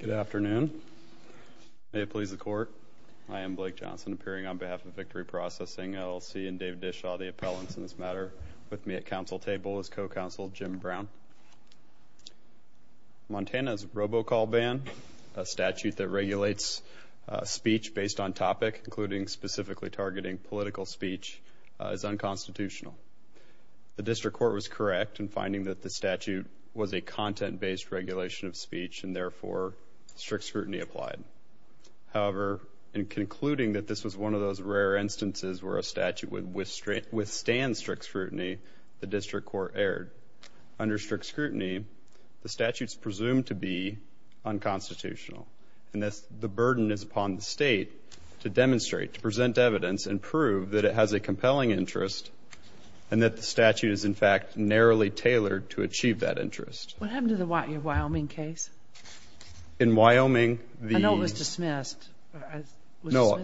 Good afternoon. May it please the Court, I am Blake Johnson, appearing on behalf of Victory Processing, LLC, and David Dishaw, the appellants in this matter, with me at counsel table is co-counsel Jim Brown. Montana's robocall ban, a statute that regulates speech based on topic, including specifically targeting political speech, is unconstitutional. The District Court was correct in finding that the statute was a content-based regulation of speech and therefore strict scrutiny applied. However, in concluding that this was one of those rare instances where a statute would withstand strict scrutiny, the District Court erred. Under strict scrutiny, the statute is presumed to be unconstitutional and thus the burden is upon the state to demonstrate, to present evidence and prove that it has a compelling interest and that the statute is in fact narrowly tailored to achieve that interest. What happened to the Wyoming case? In Wyoming, I know it was dismissed. No,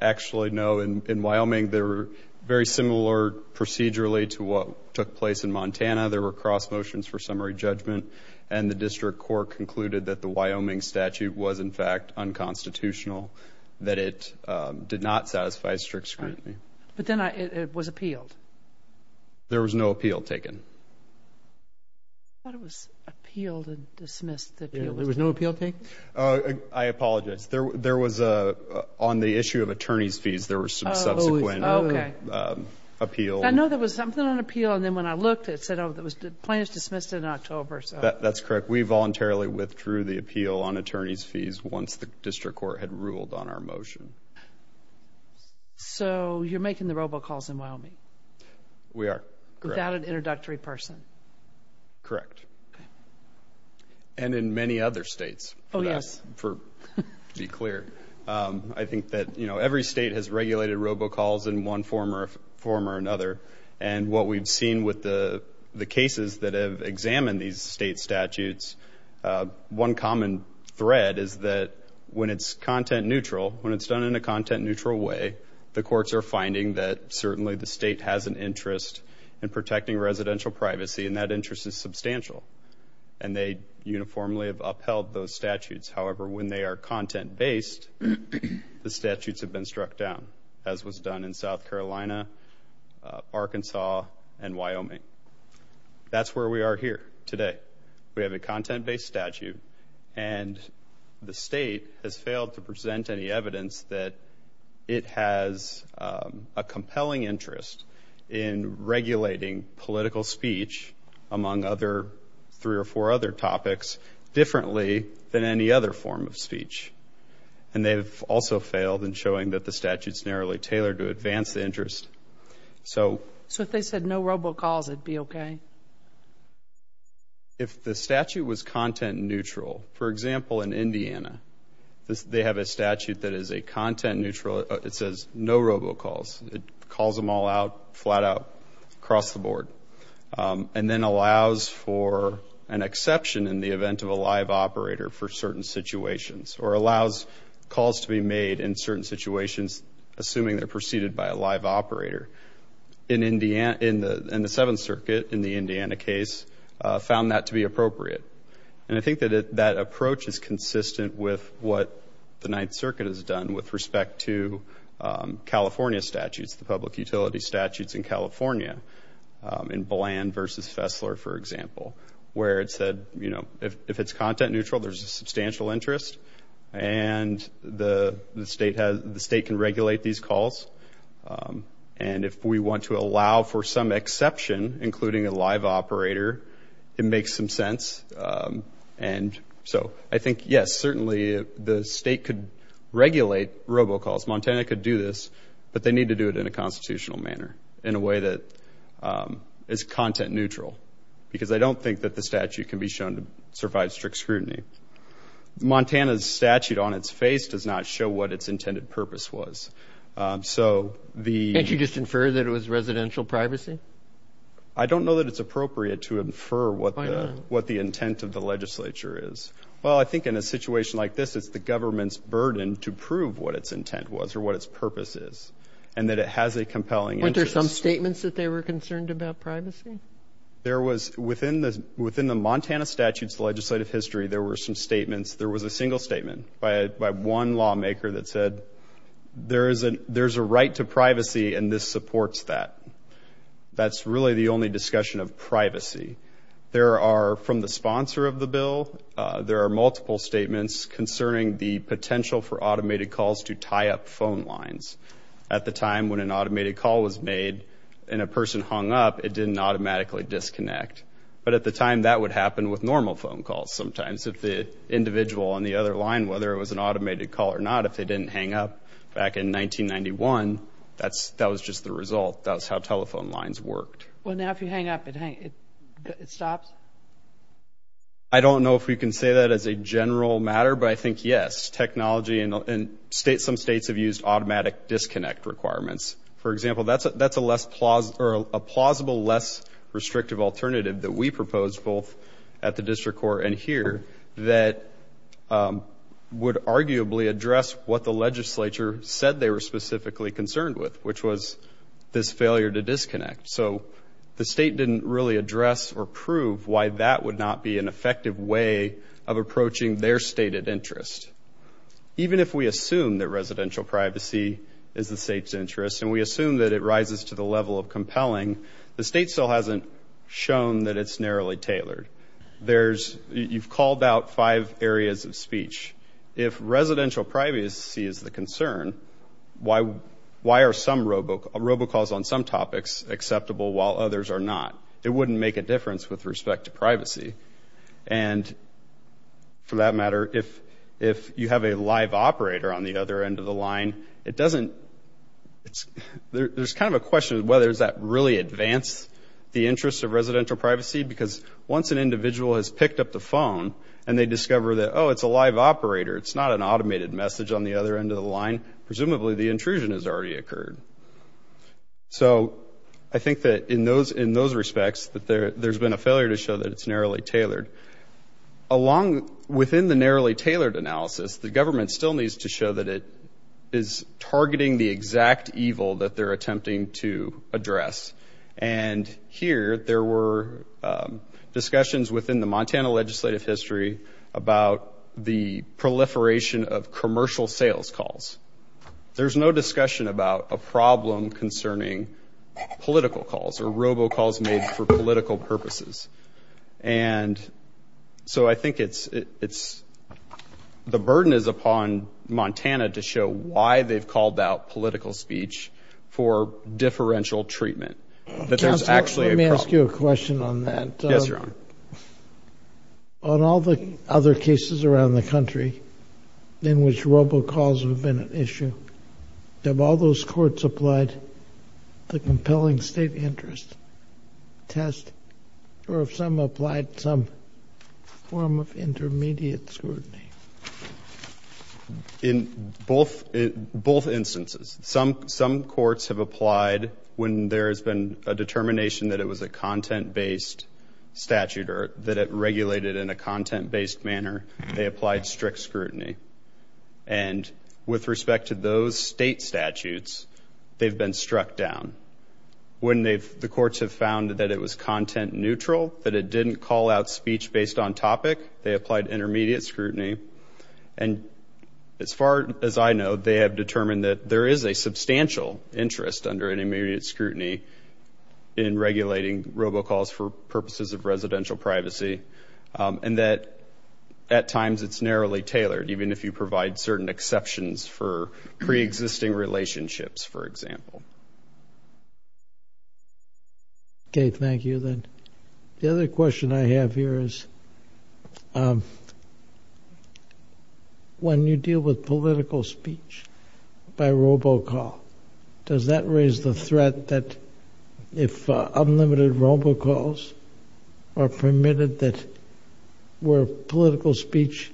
actually no. In Wyoming, they were very similar procedurally to what took place in Montana. There were cross motions for summary judgment and the District Court concluded that the Wyoming statute was in fact unconstitutional, that it did not satisfy strict scrutiny. But then it was appealed. There was no appeal taken. I thought it was appealed and dismissed. There was no appeal taken? I apologize. There was, on the issue of attorney's fees, there was some subsequent appeal. I know there was something on appeal and then when I looked, it said it was plain as dismissed in October. That's correct. We voluntarily withdrew the appeal on attorney's fees once the District Court had ruled on our motion. So, you're making the robocalls in Wyoming? We are. Without an introductory person? Correct. And in many other states, to be clear. I think that every state has regulated robocalls in one form or another. And what we've seen with the cases that have examined these state statutes, one common thread is that when it's content neutral, when it's done in a content interest in protecting residential privacy, and that interest is substantial, and they uniformly have upheld those statutes. However, when they are content-based, the statutes have been struck down, as was done in South Carolina, Arkansas, and Wyoming. That's where we are here today. We have a content-based statute and the state has failed to present any evidence that it has a compelling interest in regulating political speech, among other three or four other topics, differently than any other form of speech. And they've also failed in showing that the statute's narrowly tailored to advance the interest. So if they said no robocalls, it'd be okay? If the statute was content neutral, for example, in Indiana, they have a statute that is a content neutral. It says no robocalls. It calls them all out, flat out, across the board. And then allows for an exception in the event of a live operator for certain situations. Or allows calls to be made in certain situations, assuming they're preceded by a live operator. In the Seventh Circuit, in the Indiana case, found that to be appropriate. And I think that that approach is consistent with what the Ninth Circuit has done with respect to California statutes, the public utility statutes in California. In Bland v. Fessler, for example. Where it said, you know, if it's content neutral, there's a substantial interest. And the state can regulate these calls. And if we want to allow for some exception, including a live operator, it makes some sense. And so I think, yes, certainly the state could regulate robocalls. Montana could do this. But they need to do it in a constitutional manner. In a way that is content neutral. Because I don't think that the statute can be shown to survive strict scrutiny. Montana's statute on its face does not show what its intended purpose was. So the... Can't you just infer that it was residential privacy? I don't know that it's appropriate to infer what the intent of the legislature is. Well, I think in a situation like this, it's the government's burden to prove what its intent was or what its purpose is. And that it has a compelling interest. Weren't there some statements that they were concerned about privacy? There was... Within the Montana statute's legislative history, there were some statements. There was a single statement by one lawmaker that said, there's a right to privacy and this supports that. That's really the only discussion of privacy. There are, from the sponsor of the bill, there are multiple statements concerning the potential for automated calls to tie up phone lines. At the time when an automated call was made and a person hung up, it didn't automatically disconnect. But at the time, that would happen with normal phone calls sometimes. If the individual on the other line, whether it was an automated call or not, if they didn't hang up back in 1991, that was just the result. That was how telephone lines worked. Well, now if you hang up, it stops? I don't know if we can say that as a general matter, but I think yes. Technology and some states have used automatic disconnect requirements. For example, that's a plausible, less restrictive alternative that we proposed, both at the District Court and here, that would arguably address what the legislature said they were specifically concerned with, which was this failure to disconnect. So the state didn't really address or prove why that would not be an effective way of approaching their stated interest. Even if we assume that residential privacy is the state's interest and we assume that it rises to the level of compelling, the state still hasn't shown that it's narrowly tailored. You've called out five areas of speech. If residential privacy is the concern, why are some robocalls on some topics acceptable while others are not? It wouldn't make a difference with respect to privacy. And for that matter, if you have a live operator on the other end of the line, it doesn't – there's kind of a question of whether does that really advance the interest of residential privacy, because once an individual has picked up the phone and they discover that, oh, it's a live operator, it's not an automated message on the other end of the line, presumably the intrusion has already occurred. So I think that in those respects that there's been a failure to show that it's narrowly tailored. Along – within the narrowly tailored analysis, the government still needs to show that it is targeting the exact evil that they're attempting to address. And here, there were discussions within the Montana legislative history about the proliferation of commercial sales calls. There's no discussion about a problem concerning political calls or robocalls made for political purposes. And so I think it's – the burden is upon Montana to show why they've called out political speech for differential treatment, that there's actually a problem. Counsel, let me ask you a question on that. Yes, Your Honor. On all the other cases around the country in which robocalls have been an issue, have all those courts applied the compelling state interest test, or have some applied some form of intermediate scrutiny? In both instances. Some courts have applied when there has been a determination that it was a content-based statute or that it regulated in a content-based manner, they applied strict scrutiny. And with respect to those state statutes, they've been struck down. When they've – the courts have found that it was content neutral, that it didn't call out speech based on topic, they applied intermediate scrutiny. And as far as I know, they have substantial interest under an intermediate scrutiny in regulating robocalls for purposes of residential privacy, and that at times it's narrowly tailored, even if you provide certain exceptions for pre-existing relationships, for example. Okay, thank you. The other question I have here is, when you deal with political speech by robocall, does that raise the threat that if unlimited robocalls are permitted that where political speech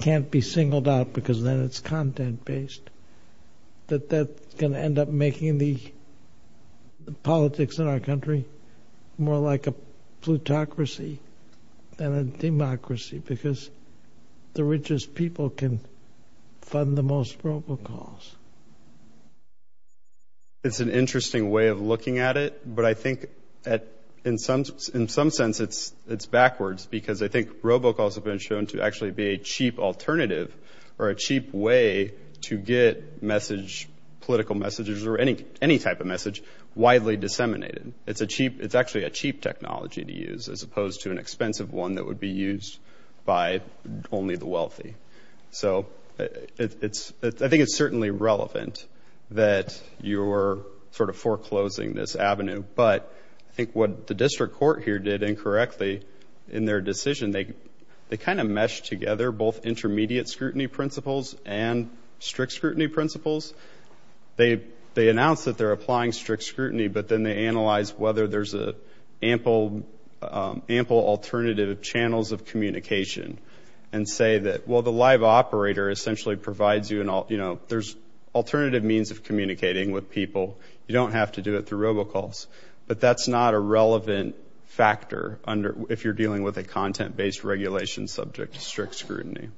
can't be singled out because then it's content-based, that that's going to end up making the politics in our country more like a plutocracy than democracy because the richest people can fund the most robocalls? It's an interesting way of looking at it, but I think in some sense it's backwards because I think robocalls have been shown to actually be a cheap alternative or a cheap way to get message, political messages or any type of message, widely disseminated. It's actually a cheap technology to use as opposed to an expensive one that would be used by only the wealthy. So I think it's certainly relevant that you're sort of foreclosing this avenue, but I think what the district court here did incorrectly in their decision, they kind of meshed together both intermediate scrutiny principles and strict scrutiny principles. They announced that they're applying strict scrutiny, but then they analyzed whether there's ample alternative channels of communication and say that, well, the live operator essentially provides you an alternative means of communicating with people. You don't have to do it through robocalls, but that's not a relevant factor if you're dealing with a content-based regulation subject to strict scrutiny.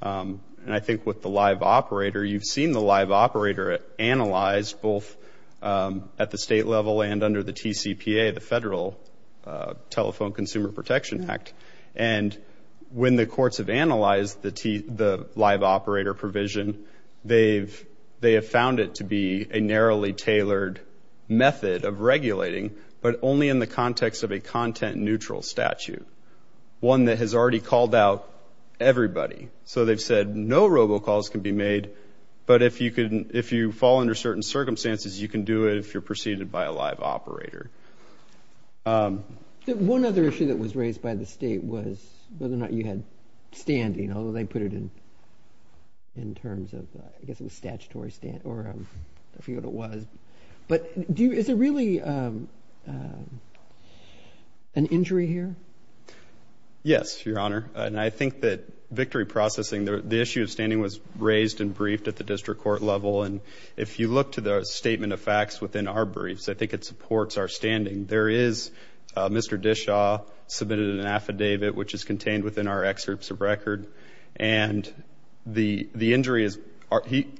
And I think with the live operator, you've seen the live operator analyzed both at the state level and under the TCPA, the Federal Telephone Consumer Protection Act. And when the courts have analyzed the live operator provision, they have found it to be a narrowly tailored method of regulating, but only in the context of a content-neutral statute, one that has already called out everybody. So they've said no robocalls can be made, but if you fall under certain circumstances, you can do it if you're preceded by a live operator. One other issue that was raised by the state was whether or not you had standing, although they put it in terms of, I guess it was statutory standing, or I forget what it was. But is there really an injury here? Yes, Your Honor. And I think that victory processing, the issue of standing was raised and briefed at the district court level. And if you look to the statement of facts within our briefs, I think it supports our standing. There is, Mr. Dishaw submitted an affidavit, which is contained within our excerpts of record. And the injury is,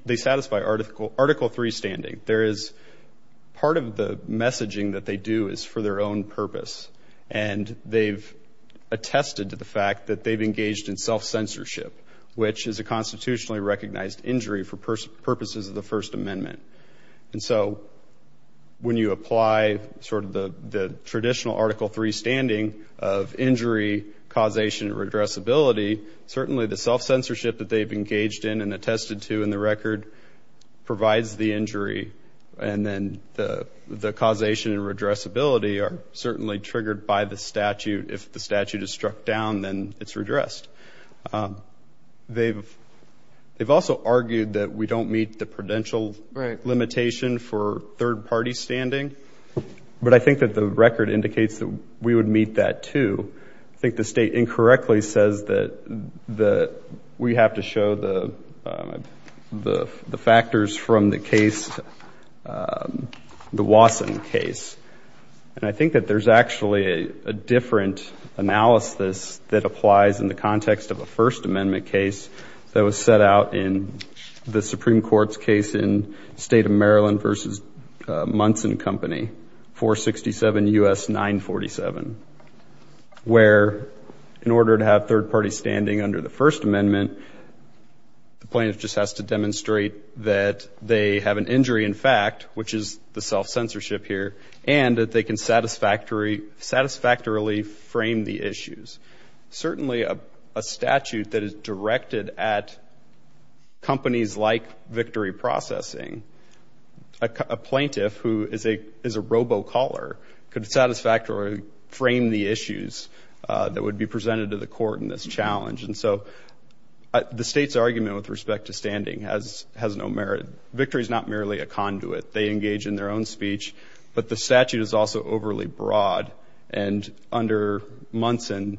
they satisfy Article 3 standing. There is, part of the messaging that they do is for their own purpose. And they've attested to the fact that they've engaged in self-censorship, which is a constitutionally recognized injury for purposes of the First Amendment. And so when you apply sort of the traditional Article 3 standing of injury, causation, or addressability, certainly the self-censorship that they've engaged in and attested to in the record provides the injury. And then the causation and redressability are certainly triggered by the statute. If the statute is struck down, then it's redressed. They've also argued that we don't meet the prudential limitation for third-party standing. But I think that the record indicates that we would meet that, too. I think the state incorrectly says that we have to show the factors from the case, the Wasson case. And I think that there's actually a different analysis that applies in the context of a First Amendment case that was set out in the Supreme Court's case in State of Maryland v. Munson Company, 467 U.S. 947. Where, in order to have third-party standing under the First Amendment, the plaintiff just has to demonstrate that they have an injury in fact, which is the self-censorship here, and that they can satisfactorily frame the issues. Certainly a statute that is directed at companies like Victory Processing, a plaintiff who is a robo-caller could satisfactorily frame the issues that would be presented to the court in this challenge. And so the state's argument with respect to standing has no merit. Victory is not merely a conduit. They engage in their own speech. But the statute is also overly broad. And under Munson,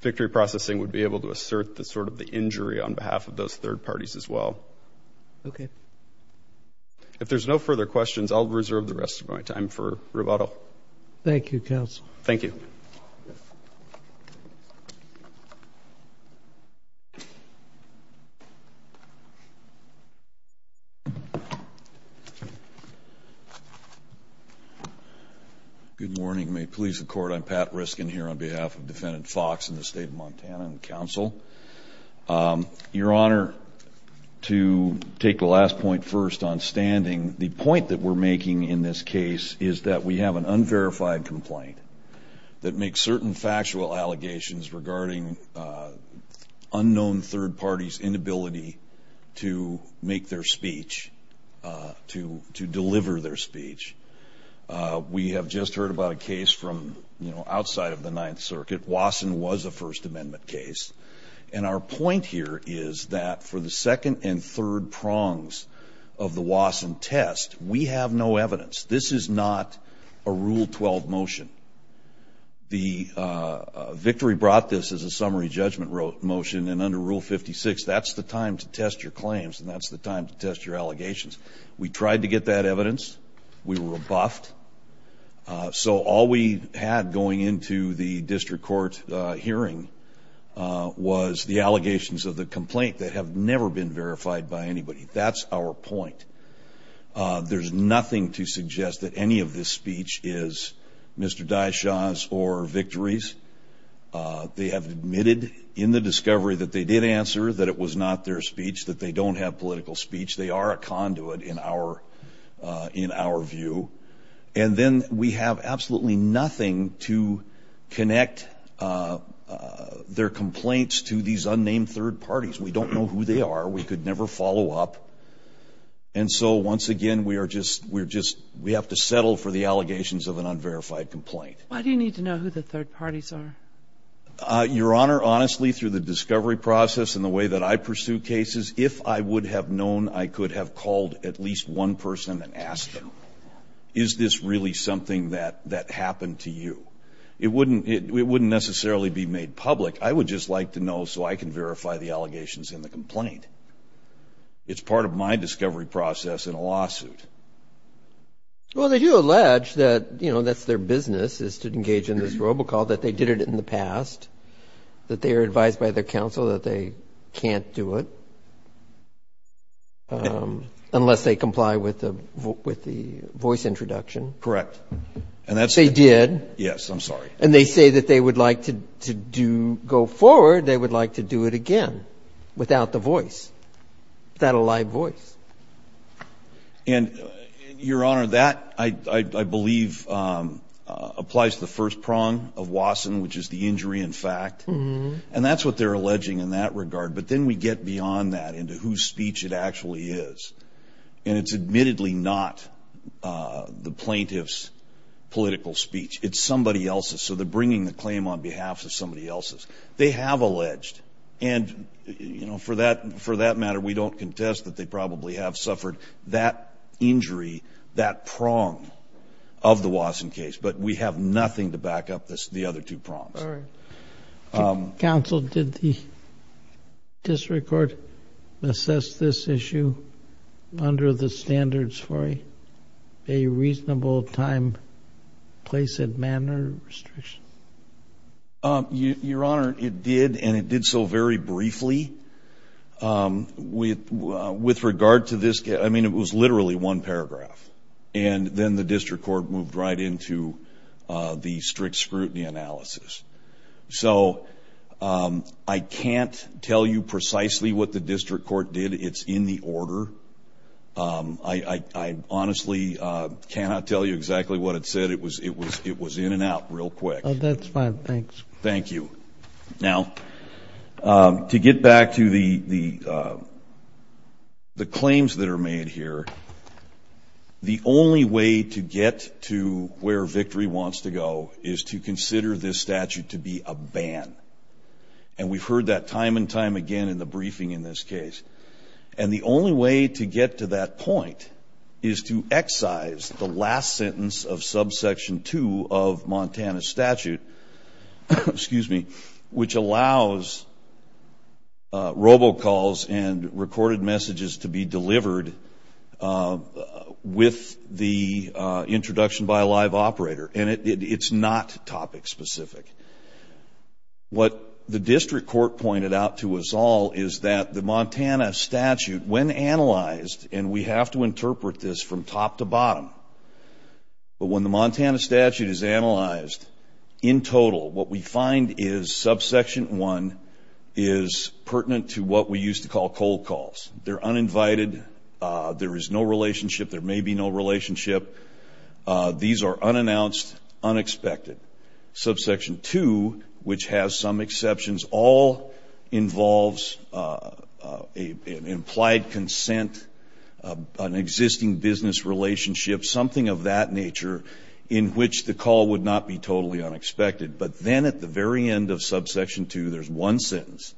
Victory Processing would be able to assert sort of the injury on behalf of those third parties as well. Okay. If there's no further questions, I'll reserve the rest of my time for rebuttal. Thank you, Counsel. Thank you. Good morning. May it please the Court, I'm Pat Riskin here on behalf of Defendant Fox in the State of Montana and Counsel. Your Honor, to take the last point first on standing, the point that we're making in this case is that we have an unverified complaint that makes certain factual allegations regarding unknown third parties' inability to make their speech, to deliver their speech. We have just heard about a case from, you know, outside of the Ninth Circuit. Wasson was a First Amendment case. And our point here is that for the second and third prongs of the Wasson test, we have no evidence. This is not a Rule 12 motion. The Victory brought this as a summary judgment motion. And under Rule 56, that's the time to test your claims and that's the time to test your allegations. We tried to get that evidence. We were buffed. So all we had going into the District Court hearing was the allegations of the complaint that have never been verified by anybody. That's our point. There's nothing to suggest that any of this speech is Mr. Dyshaw's or Victory's. They have admitted in the discovery that they did answer that it was not their speech, that they don't have political speech. They are a conduit in our view. And then we have absolutely nothing to connect their complaints to these unnamed third parties. We don't know who they are. We could never follow up. And so once again, we are just, we're just, we have to settle for the allegations of an unverified complaint. Why do you need to know who the third parties are? Your Honor, honestly, through the discovery process and the way that I pursue cases, if I would have known, I could have called at least one person and asked them, is this really something that happened to you? It wouldn't necessarily be made public. I would just like to know so I can verify the allegations in the complaint. It's part of my discovery process in a lawsuit. Well, they do allege that, you know, that's their business is to engage in this robocall, that they did it in the past, that they are advised by their counsel that they can't do it unless they comply with the voice introduction. And that's what they're alleging in that regard. They did? Yes. I'm sorry. And they say that they would like to do, go forward, they would like to do it again without the voice, without a live voice. And, Your Honor, that I believe applies to the first prong of Wasson, which is the injury in fact. And that's what they're alleging in that regard. But then we get beyond that into whose speech it actually is. And it's admittedly not the plaintiff's political speech. It's somebody else's. So they're bringing the claim on behalf of somebody else's. They have alleged. And, you know, for that matter, we don't contest that they probably have suffered that injury, that prong of the Wasson case. But we have nothing to back up the other two prongs. All right. Counsel, did the district court assess this issue under the standards for a reasonable time, place, and manner restriction? Your Honor, it did. And it did so very briefly. With regard to this case, I mean, it was literally one paragraph. And then the district court moved right into the strict scrutiny analysis. So I can't tell you precisely what the district court did. It's in the order. I honestly cannot tell you exactly what it said. It was in and out real quick. Oh, that's fine. Thanks. Thank you. Now, to get back to the claims that are made here, the district court did the only way to get to where Victory wants to go is to consider this statute to be a ban. And we've heard that time and time again in the briefing in this case. And the only way to get to that point is to excise the last sentence of subsection 2 of Montana's statute, excuse me, which allows robocalls and recorded messages to be delivered to the with the introduction by a live operator. And it's not topic specific. What the district court pointed out to us all is that the Montana statute, when analyzed, and we have to interpret this from top to bottom, but when the Montana statute is analyzed in total, what we find is subsection 1 is pertinent to what we used to call cold calls. They're uninvited. There is no relationship. There may be no relationship. These are unannounced, unexpected. Subsection 2, which has some exceptions, all involves an implied consent, an existing business relationship, something of that nature in which the call would not be totally unexpected. But then at the very end of subsection 2, there's one sentence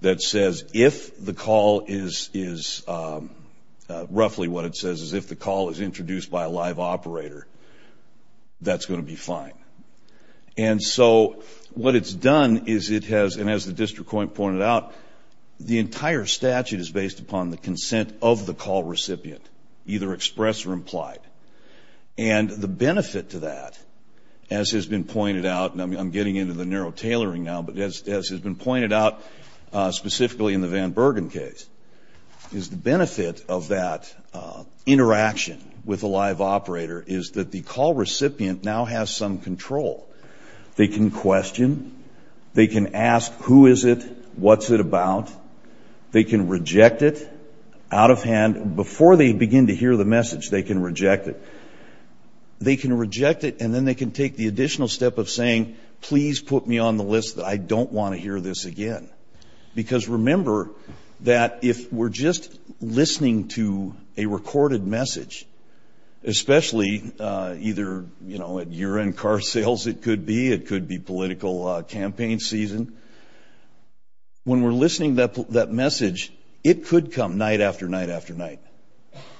that says if the call is roughly what it says is if the call is introduced by a live operator, that's going to be fine. And so what it's done is it has, and as the district court pointed out, the entire statute is based upon the consent of the call recipient, either expressed or implied. And the benefit to that, as has been pointed out, and I'm getting into the narrow tailoring now, but as has been pointed out specifically in the Van Bergen case, is the benefit of that interaction with a live operator is that the call recipient now has some control. They can question. They can ask who is it, what's it about. They can reject it out of hand. Before they begin to hear the message, they can reject it. They can reject it, and then they can take the additional step of saying, please put me on the list. I don't want to hear this again. Because remember that if we're just listening to a recorded message, especially either at year-end car sales, it could be. It could be political campaign season. When we're listening to that message, it could come night after night after night.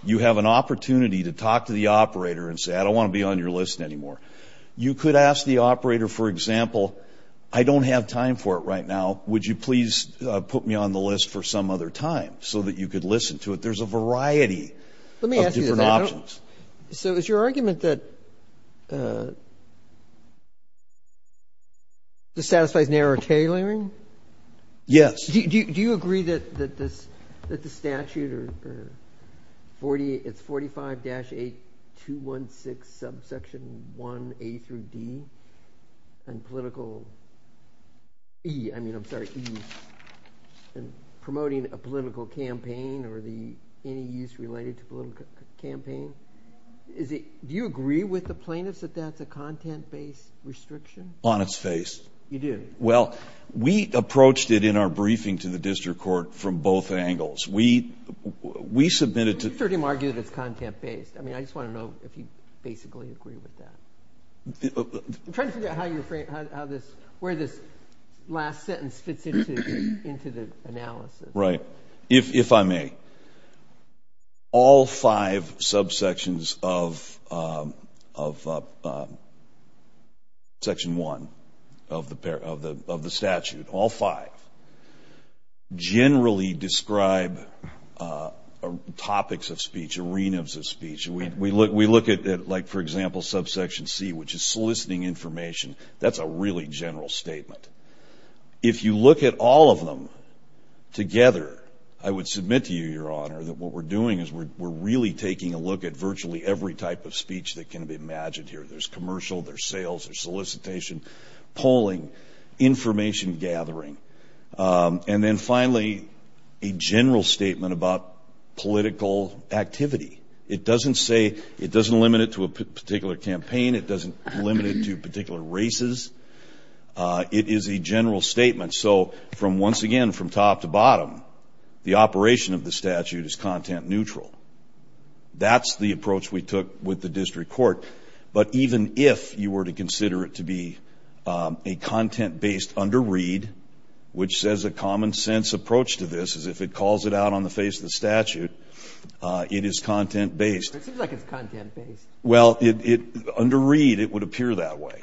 You have an opportunity to talk to the operator and say, I don't want to be on your list anymore. You could ask the operator, for example, I don't have time for it right now. Would you please put me on the list for some other time so that you could listen to it? There's a Let me ask you this. I don't. So is your argument that this satisfies narrow tailoring Yes. Do you agree that the statute, it's 45-8216 subsection 1A through D, and promoting a political campaign or any use related to political campaign. Do you agree with the plaintiffs that that's a content-based restriction? On its face. You do? Well, we approached it in our briefing to the district court from both angles. We submitted to I just want to know if you basically agree with that. I'm trying to figure out where this last sentence fits into the analysis. Right. If I may. All five subsections of Section 1A are subject to content-based restriction. Section 1 of the statute, all five, generally describe topics of speech, arenas of speech. We look at, like, for example, subsection C, which is soliciting information. That's a really general statement. If you look at all of them together, I would submit to you, Your Honor, that what we're doing is we're really taking a look at virtually every type of speech that can be imagined here. There's commercial, there's sales, there's solicitation, polling, information gathering. And then finally, a general statement about political activity. It doesn't say, it doesn't limit it to a particular campaign. It doesn't limit it to particular races. It is a general statement. So from once again, from top to bottom, the district court. But even if you were to consider it to be a content-based under-read, which says a common-sense approach to this, as if it calls it out on the face of the statute, it is content-based. It seems like it's content-based. Well, under-read, it would appear that way.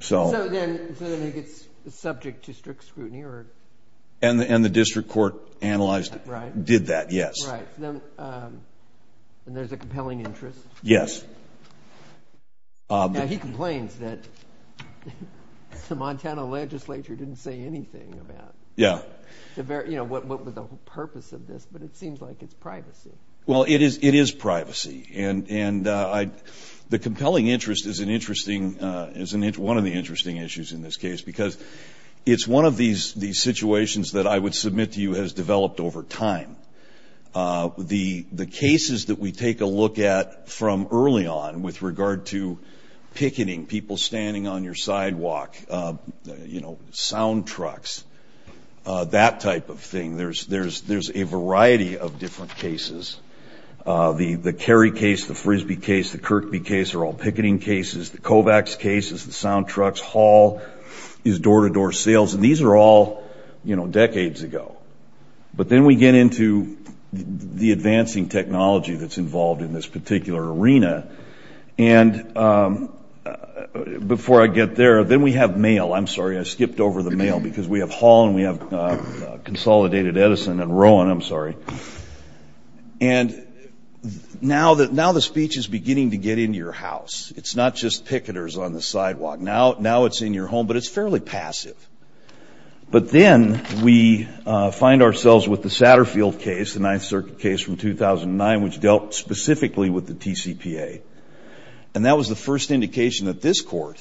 So then it's subject to strict scrutiny? And the district court analyzed it, did that, yes. And there's a compelling interest? Yes. Now, he complains that the Montana legislature didn't say anything about what was the purpose of this, but it seems like it's privacy. Well, it is privacy. And the compelling interest is one of the interesting issues in this case because it's one of these situations that I would submit to you has developed over time. The cases that we take a look at from early on with regard to picketing, people standing on your sidewalk, sound trucks, that type of thing, there's a variety of different cases. The Kerry case, the Frisbee case, the Kirkby case are all picketing cases. The Kovacs case is the sound trucks. Hall is door-to-door sales. And these are all, you know, decades ago. But then we get into the advancing technology that's involved in this particular arena. And before I get there, then we have mail. I'm sorry, I skipped over the mail because we have Hall and we have Consolidated Edison and Rowan, I'm sorry. And now the speech is on the sidewalk. Now it's in your home, but it's fairly passive. But then we find ourselves with the Satterfield case, the Ninth Circuit case from 2009, which dealt specifically with the TCPA. And that was the first indication that this court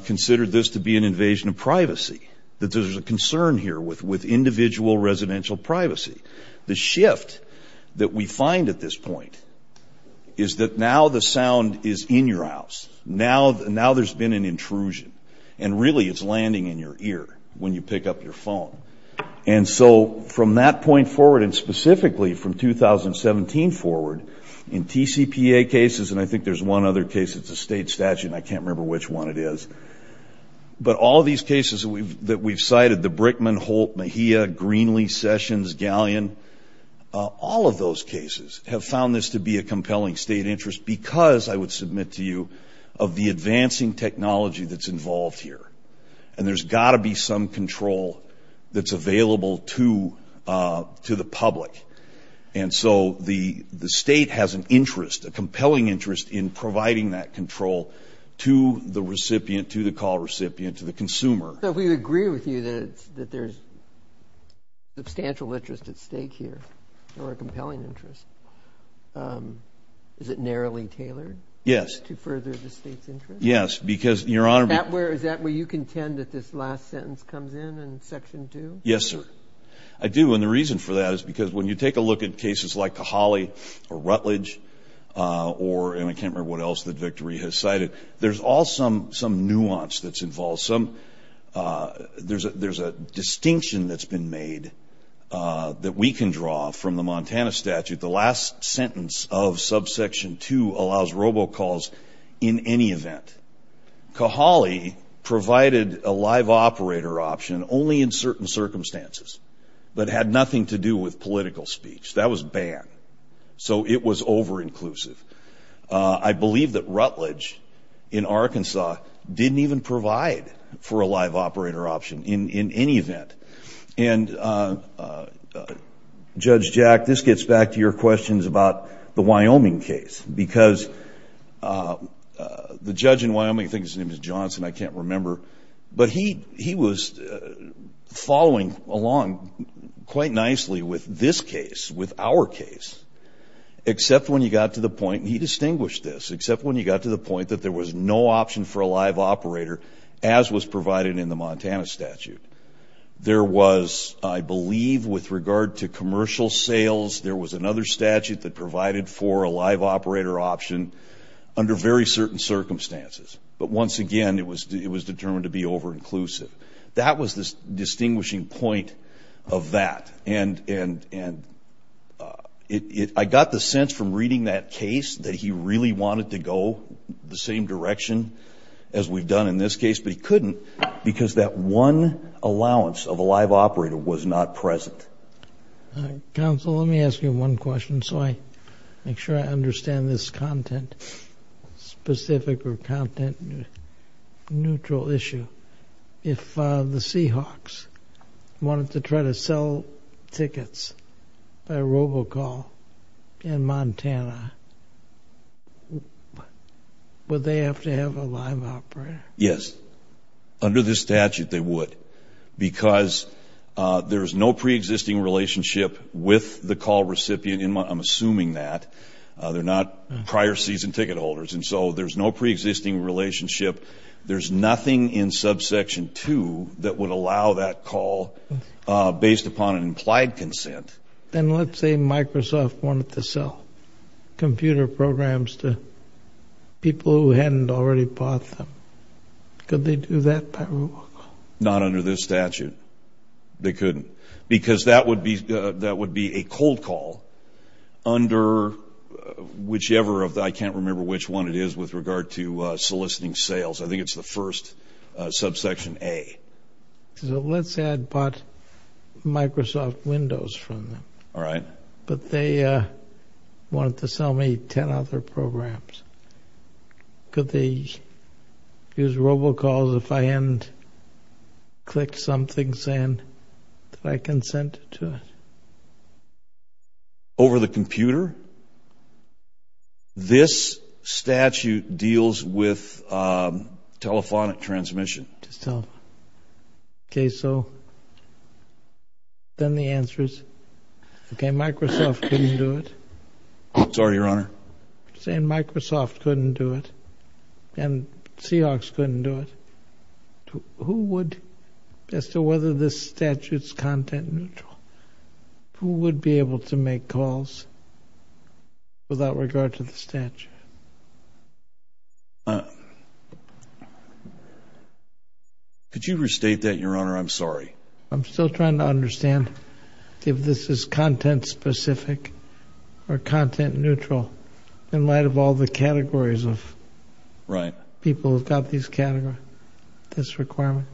considered this to be an invasion of privacy, that there's a concern here with individual residential privacy. The shift that we find at this point is that now the sound is in your house. Now there's been an intrusion. And really it's landing in your ear when you pick up your phone. And so from that point forward, and specifically from 2017 forward, in TCPA cases, and I think there's one other case, it's a state statute and I can't remember which one it is, but all these cases that we've cited, the Brickman, Holt, Mejia, Greenlee, Sessions, Gallion, all of those cases have found this to be a compelling state interest because, I would submit to you, of the advancing technology that's involved here. And there's got to be some control that's available to the public. And so the state has an interest, a compelling interest, in the consumer. So if we agree with you that there's substantial interest at stake here, or a compelling interest, is it narrowly tailored to further the state's interest? Yes. Because, Your Honor, Is that where you contend that this last sentence comes in, in Section 2? Yes, sir. I do. And the reason for that is because when you take a look at cases like Cahali or Rutledge, or, and I can't remember what else that Victory has cited, there's all some nuance that's involved. There's a distinction that's been made that we can draw from the Montana statute. The last sentence of Subsection 2 allows robocalls in any event. Cahali provided a live operator option only in certain circumstances, but had nothing to do with political speech. That was banned. So it was over-inclusive. I believe that Rutledge, in Arkansas, didn't even provide for a live operator option in any event. And, Judge Jack, this gets back to your questions about the Wyoming case. Because the judge in Wyoming, I think his name is Johnson, I can't remember, but he was following along quite nicely with this case, with our case, except when he got to the point, and he distinguished this, except when he got to the point that there was no option for a live operator, as was provided in the Montana statute. There was, I believe with regard to commercial sales, there was another statute that provided for a live operator option under very certain circumstances. But once again, it was determined to be over-inclusive. That was the distinguishing point of that. And I got the sense from reading that case that he really wanted to go the same direction as we've done in this case, but he couldn't, because that one allowance of a live operator was not present. Counsel, let me ask you one question, so I make sure I understand this content specific or content neutral issue. If the Seahawks wanted to try to sell tickets by robocall in Montana, would they have to have a live operator? Yes. Under this statute, they would. Because there's no pre-existing relationship with the call recipient, I'm assuming that, they're not prior season ticket holders, and so there's no pre-existing relationship. There's nothing in subsection 2 that would allow that call based upon an implied consent. Then let's say Microsoft wanted to sell computer programs to people who hadn't already bought them. Could they do that by robocall? Not under this statute. They couldn't. Because that would be a cold call under whichever of the, I can't remember which one it is with regard to soliciting sales. I think it's the first subsection A. So let's say I bought Microsoft Windows from them. All right. But they wanted to sell me 10 other programs. Could they use robocalls if I hadn't clicked something saying that I consented to it? Over the computer? This statute deals with telephonic transmission. Okay, so then the answer is, okay, Microsoft couldn't do it. Sorry, Your Honor. Saying Microsoft couldn't do it, and Seahawks couldn't do it. Who would, as to whether this would be able to make calls without regard to the statute? Could you restate that, Your Honor? I'm sorry. I'm still trying to understand if this is content-specific or content-neutral in light of all the categories of people who've got these categories, this requirement.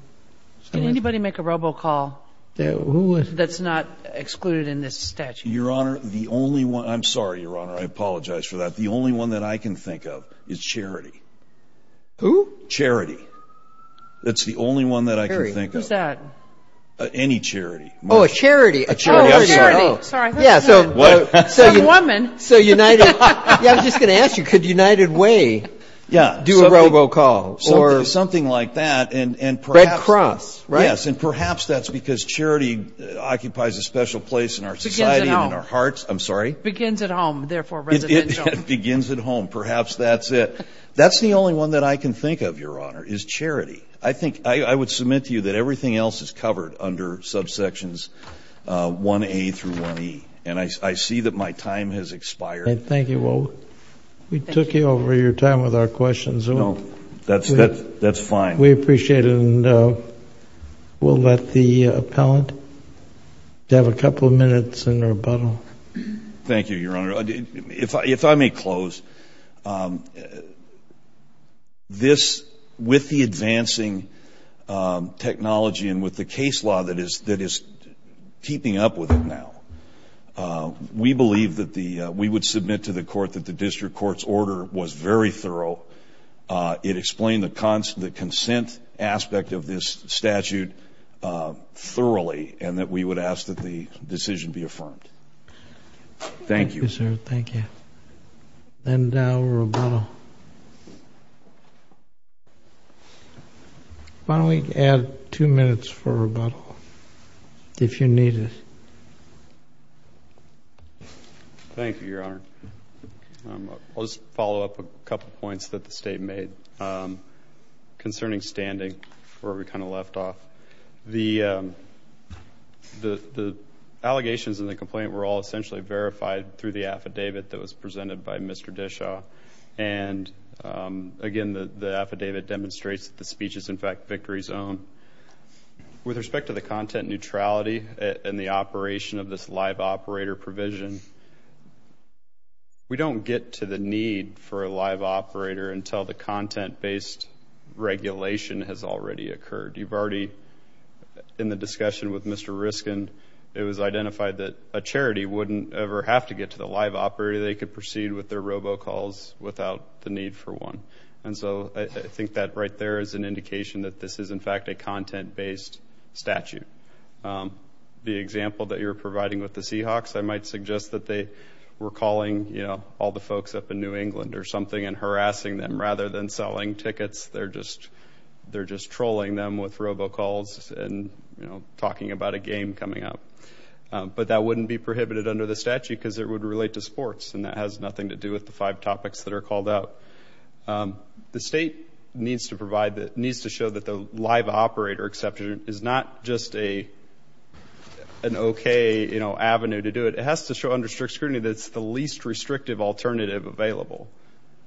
Can anybody make a robocall that's not excluded in this statute? Your Honor, the only one, I'm sorry, Your Honor, I apologize for that. The only one that I can think of is charity. Who? Charity. That's the only one that I can think of. Who's that? Any charity. Oh, a charity. A charity. Oh, a charity. Sorry. Yeah, so. What? Some woman. So United, yeah, I was just going to ask you, could United Way do a robocall? Something like that, and perhaps. Red Cross, right? Yes, and perhaps that's because charity occupies a special place in our society and in our hearts. Begins at home. I'm sorry? Begins at home, therefore residential. It begins at home. Perhaps that's it. That's the only one that I can think of, Your Honor, is charity. I think, I would submit to you that everything else is covered under subsections 1A through 1E, and I see that my time has expired. Thank you. We took you over your time with our questions. No, that's fine. We appreciate it, and we'll let the appellant have a couple of minutes in rebuttal. Thank you, Your Honor. If I may close, this, with the advancing technology and with the case law that is keeping up with it now, we believe that the, we would submit to the court that the district court's order was very thorough. It explained the consent aspect of this statute thoroughly, and that we would ask that the decision be affirmed. Thank you. Thank you, sir. Thank you. And now rebuttal. Why don't we add two minutes for rebuttal, if you need it. Thank you, Your Honor. I'll just follow up a couple of points that the State made concerning standing where we kind of left off. The allegations in the complaint were all essentially verified through the affidavit that was presented by Mr. Dishaw, and again, the affidavit demonstrates that the speech is, in fact, Victory's own. With respect to the content neutrality and the operation of this live operator provision, we don't get to the need for a live operator until the content-based regulation has already occurred. You've already, in the discussion with Mr. Riskin, it was identified that a charity wouldn't ever have to get to the live operator. They could proceed with their robocalls without the need for one. And so I think that right there is an indication that this is, in fact, a content-based statute. The example that you're providing with the Seahawks, I might suggest that they were calling all the folks up in New England or something and harassing them rather than selling tickets. They're just trolling them with robocalls and talking about a game coming up. But that wouldn't be prohibited under the statute because it would relate to sports, and that has nothing to do with the five topics that are called out. The state needs to provide, needs to show that the live operator exception is not just an okay avenue to do it. It has to show under strict scrutiny that it's the least restrictive alternative available.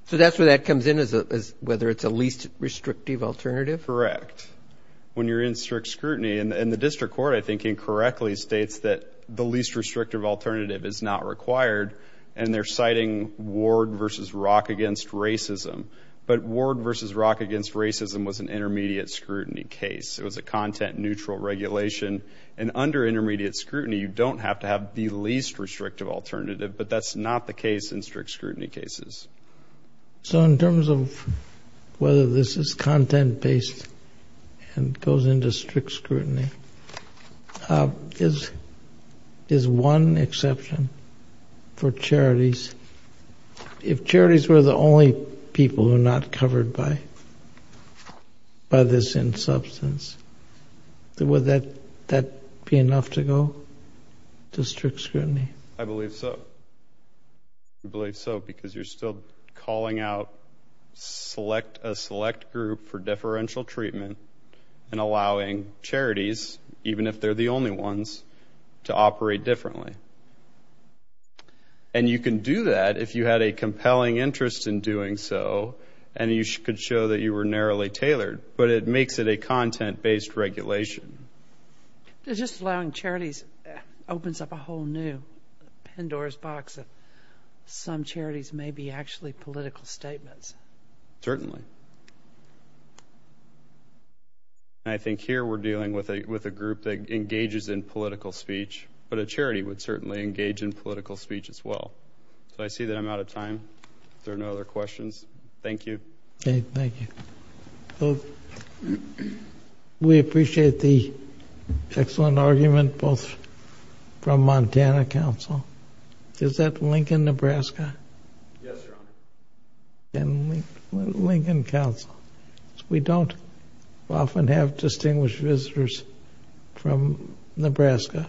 So that's where that comes in, whether it's a least restrictive alternative? Correct. When you're in strict scrutiny, and the district court, I think, incorrectly states that the least restrictive alternative is not required, and they're citing Ward v. Rock v. Racism. But Ward v. Rock v. Racism was an intermediate scrutiny case. It was a content-neutral regulation. And under intermediate scrutiny, you don't have to have the least restrictive alternative, but that's not the case in strict scrutiny cases. So in terms of whether this is content-based and goes into strict scrutiny, is one exception for charities, if charities were the only people who are not covered by this insubstance, would that be enough to go to strict scrutiny? I believe so. I believe so, because you're still calling out a select group for deferential treatment and allowing charities, even if they're the only ones, to operate differently. And you can do that if you had a compelling interest in doing so, and you could show that you were narrowly tailored. But it makes it a content-based regulation. Just allowing charities opens up a whole new Pandora's box of some charities may be actually political statements. Certainly. And I think here we're dealing with a group that engages in political speech, but a charity would certainly engage in political speech as well. So I see that I'm out of time. If there are no other questions, thank you. Thank you. We appreciate the excellent argument both from Montana Council. Is that Lincoln, Nebraska? Yes, Your Honor. And Lincoln Council. We don't often have distinguished visitors from Nebraska,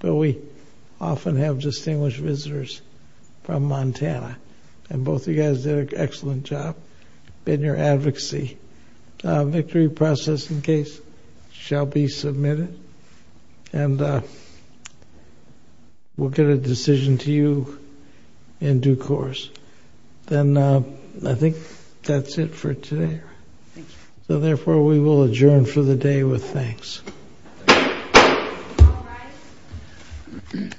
but we often have been your advocacy. A victory processing case shall be submitted, and we'll get a decision to you in due course. Then I think that's it for today. Thank you. So therefore, we will adjourn for the day with thanks. All rise. This court for discussion stands adjourned.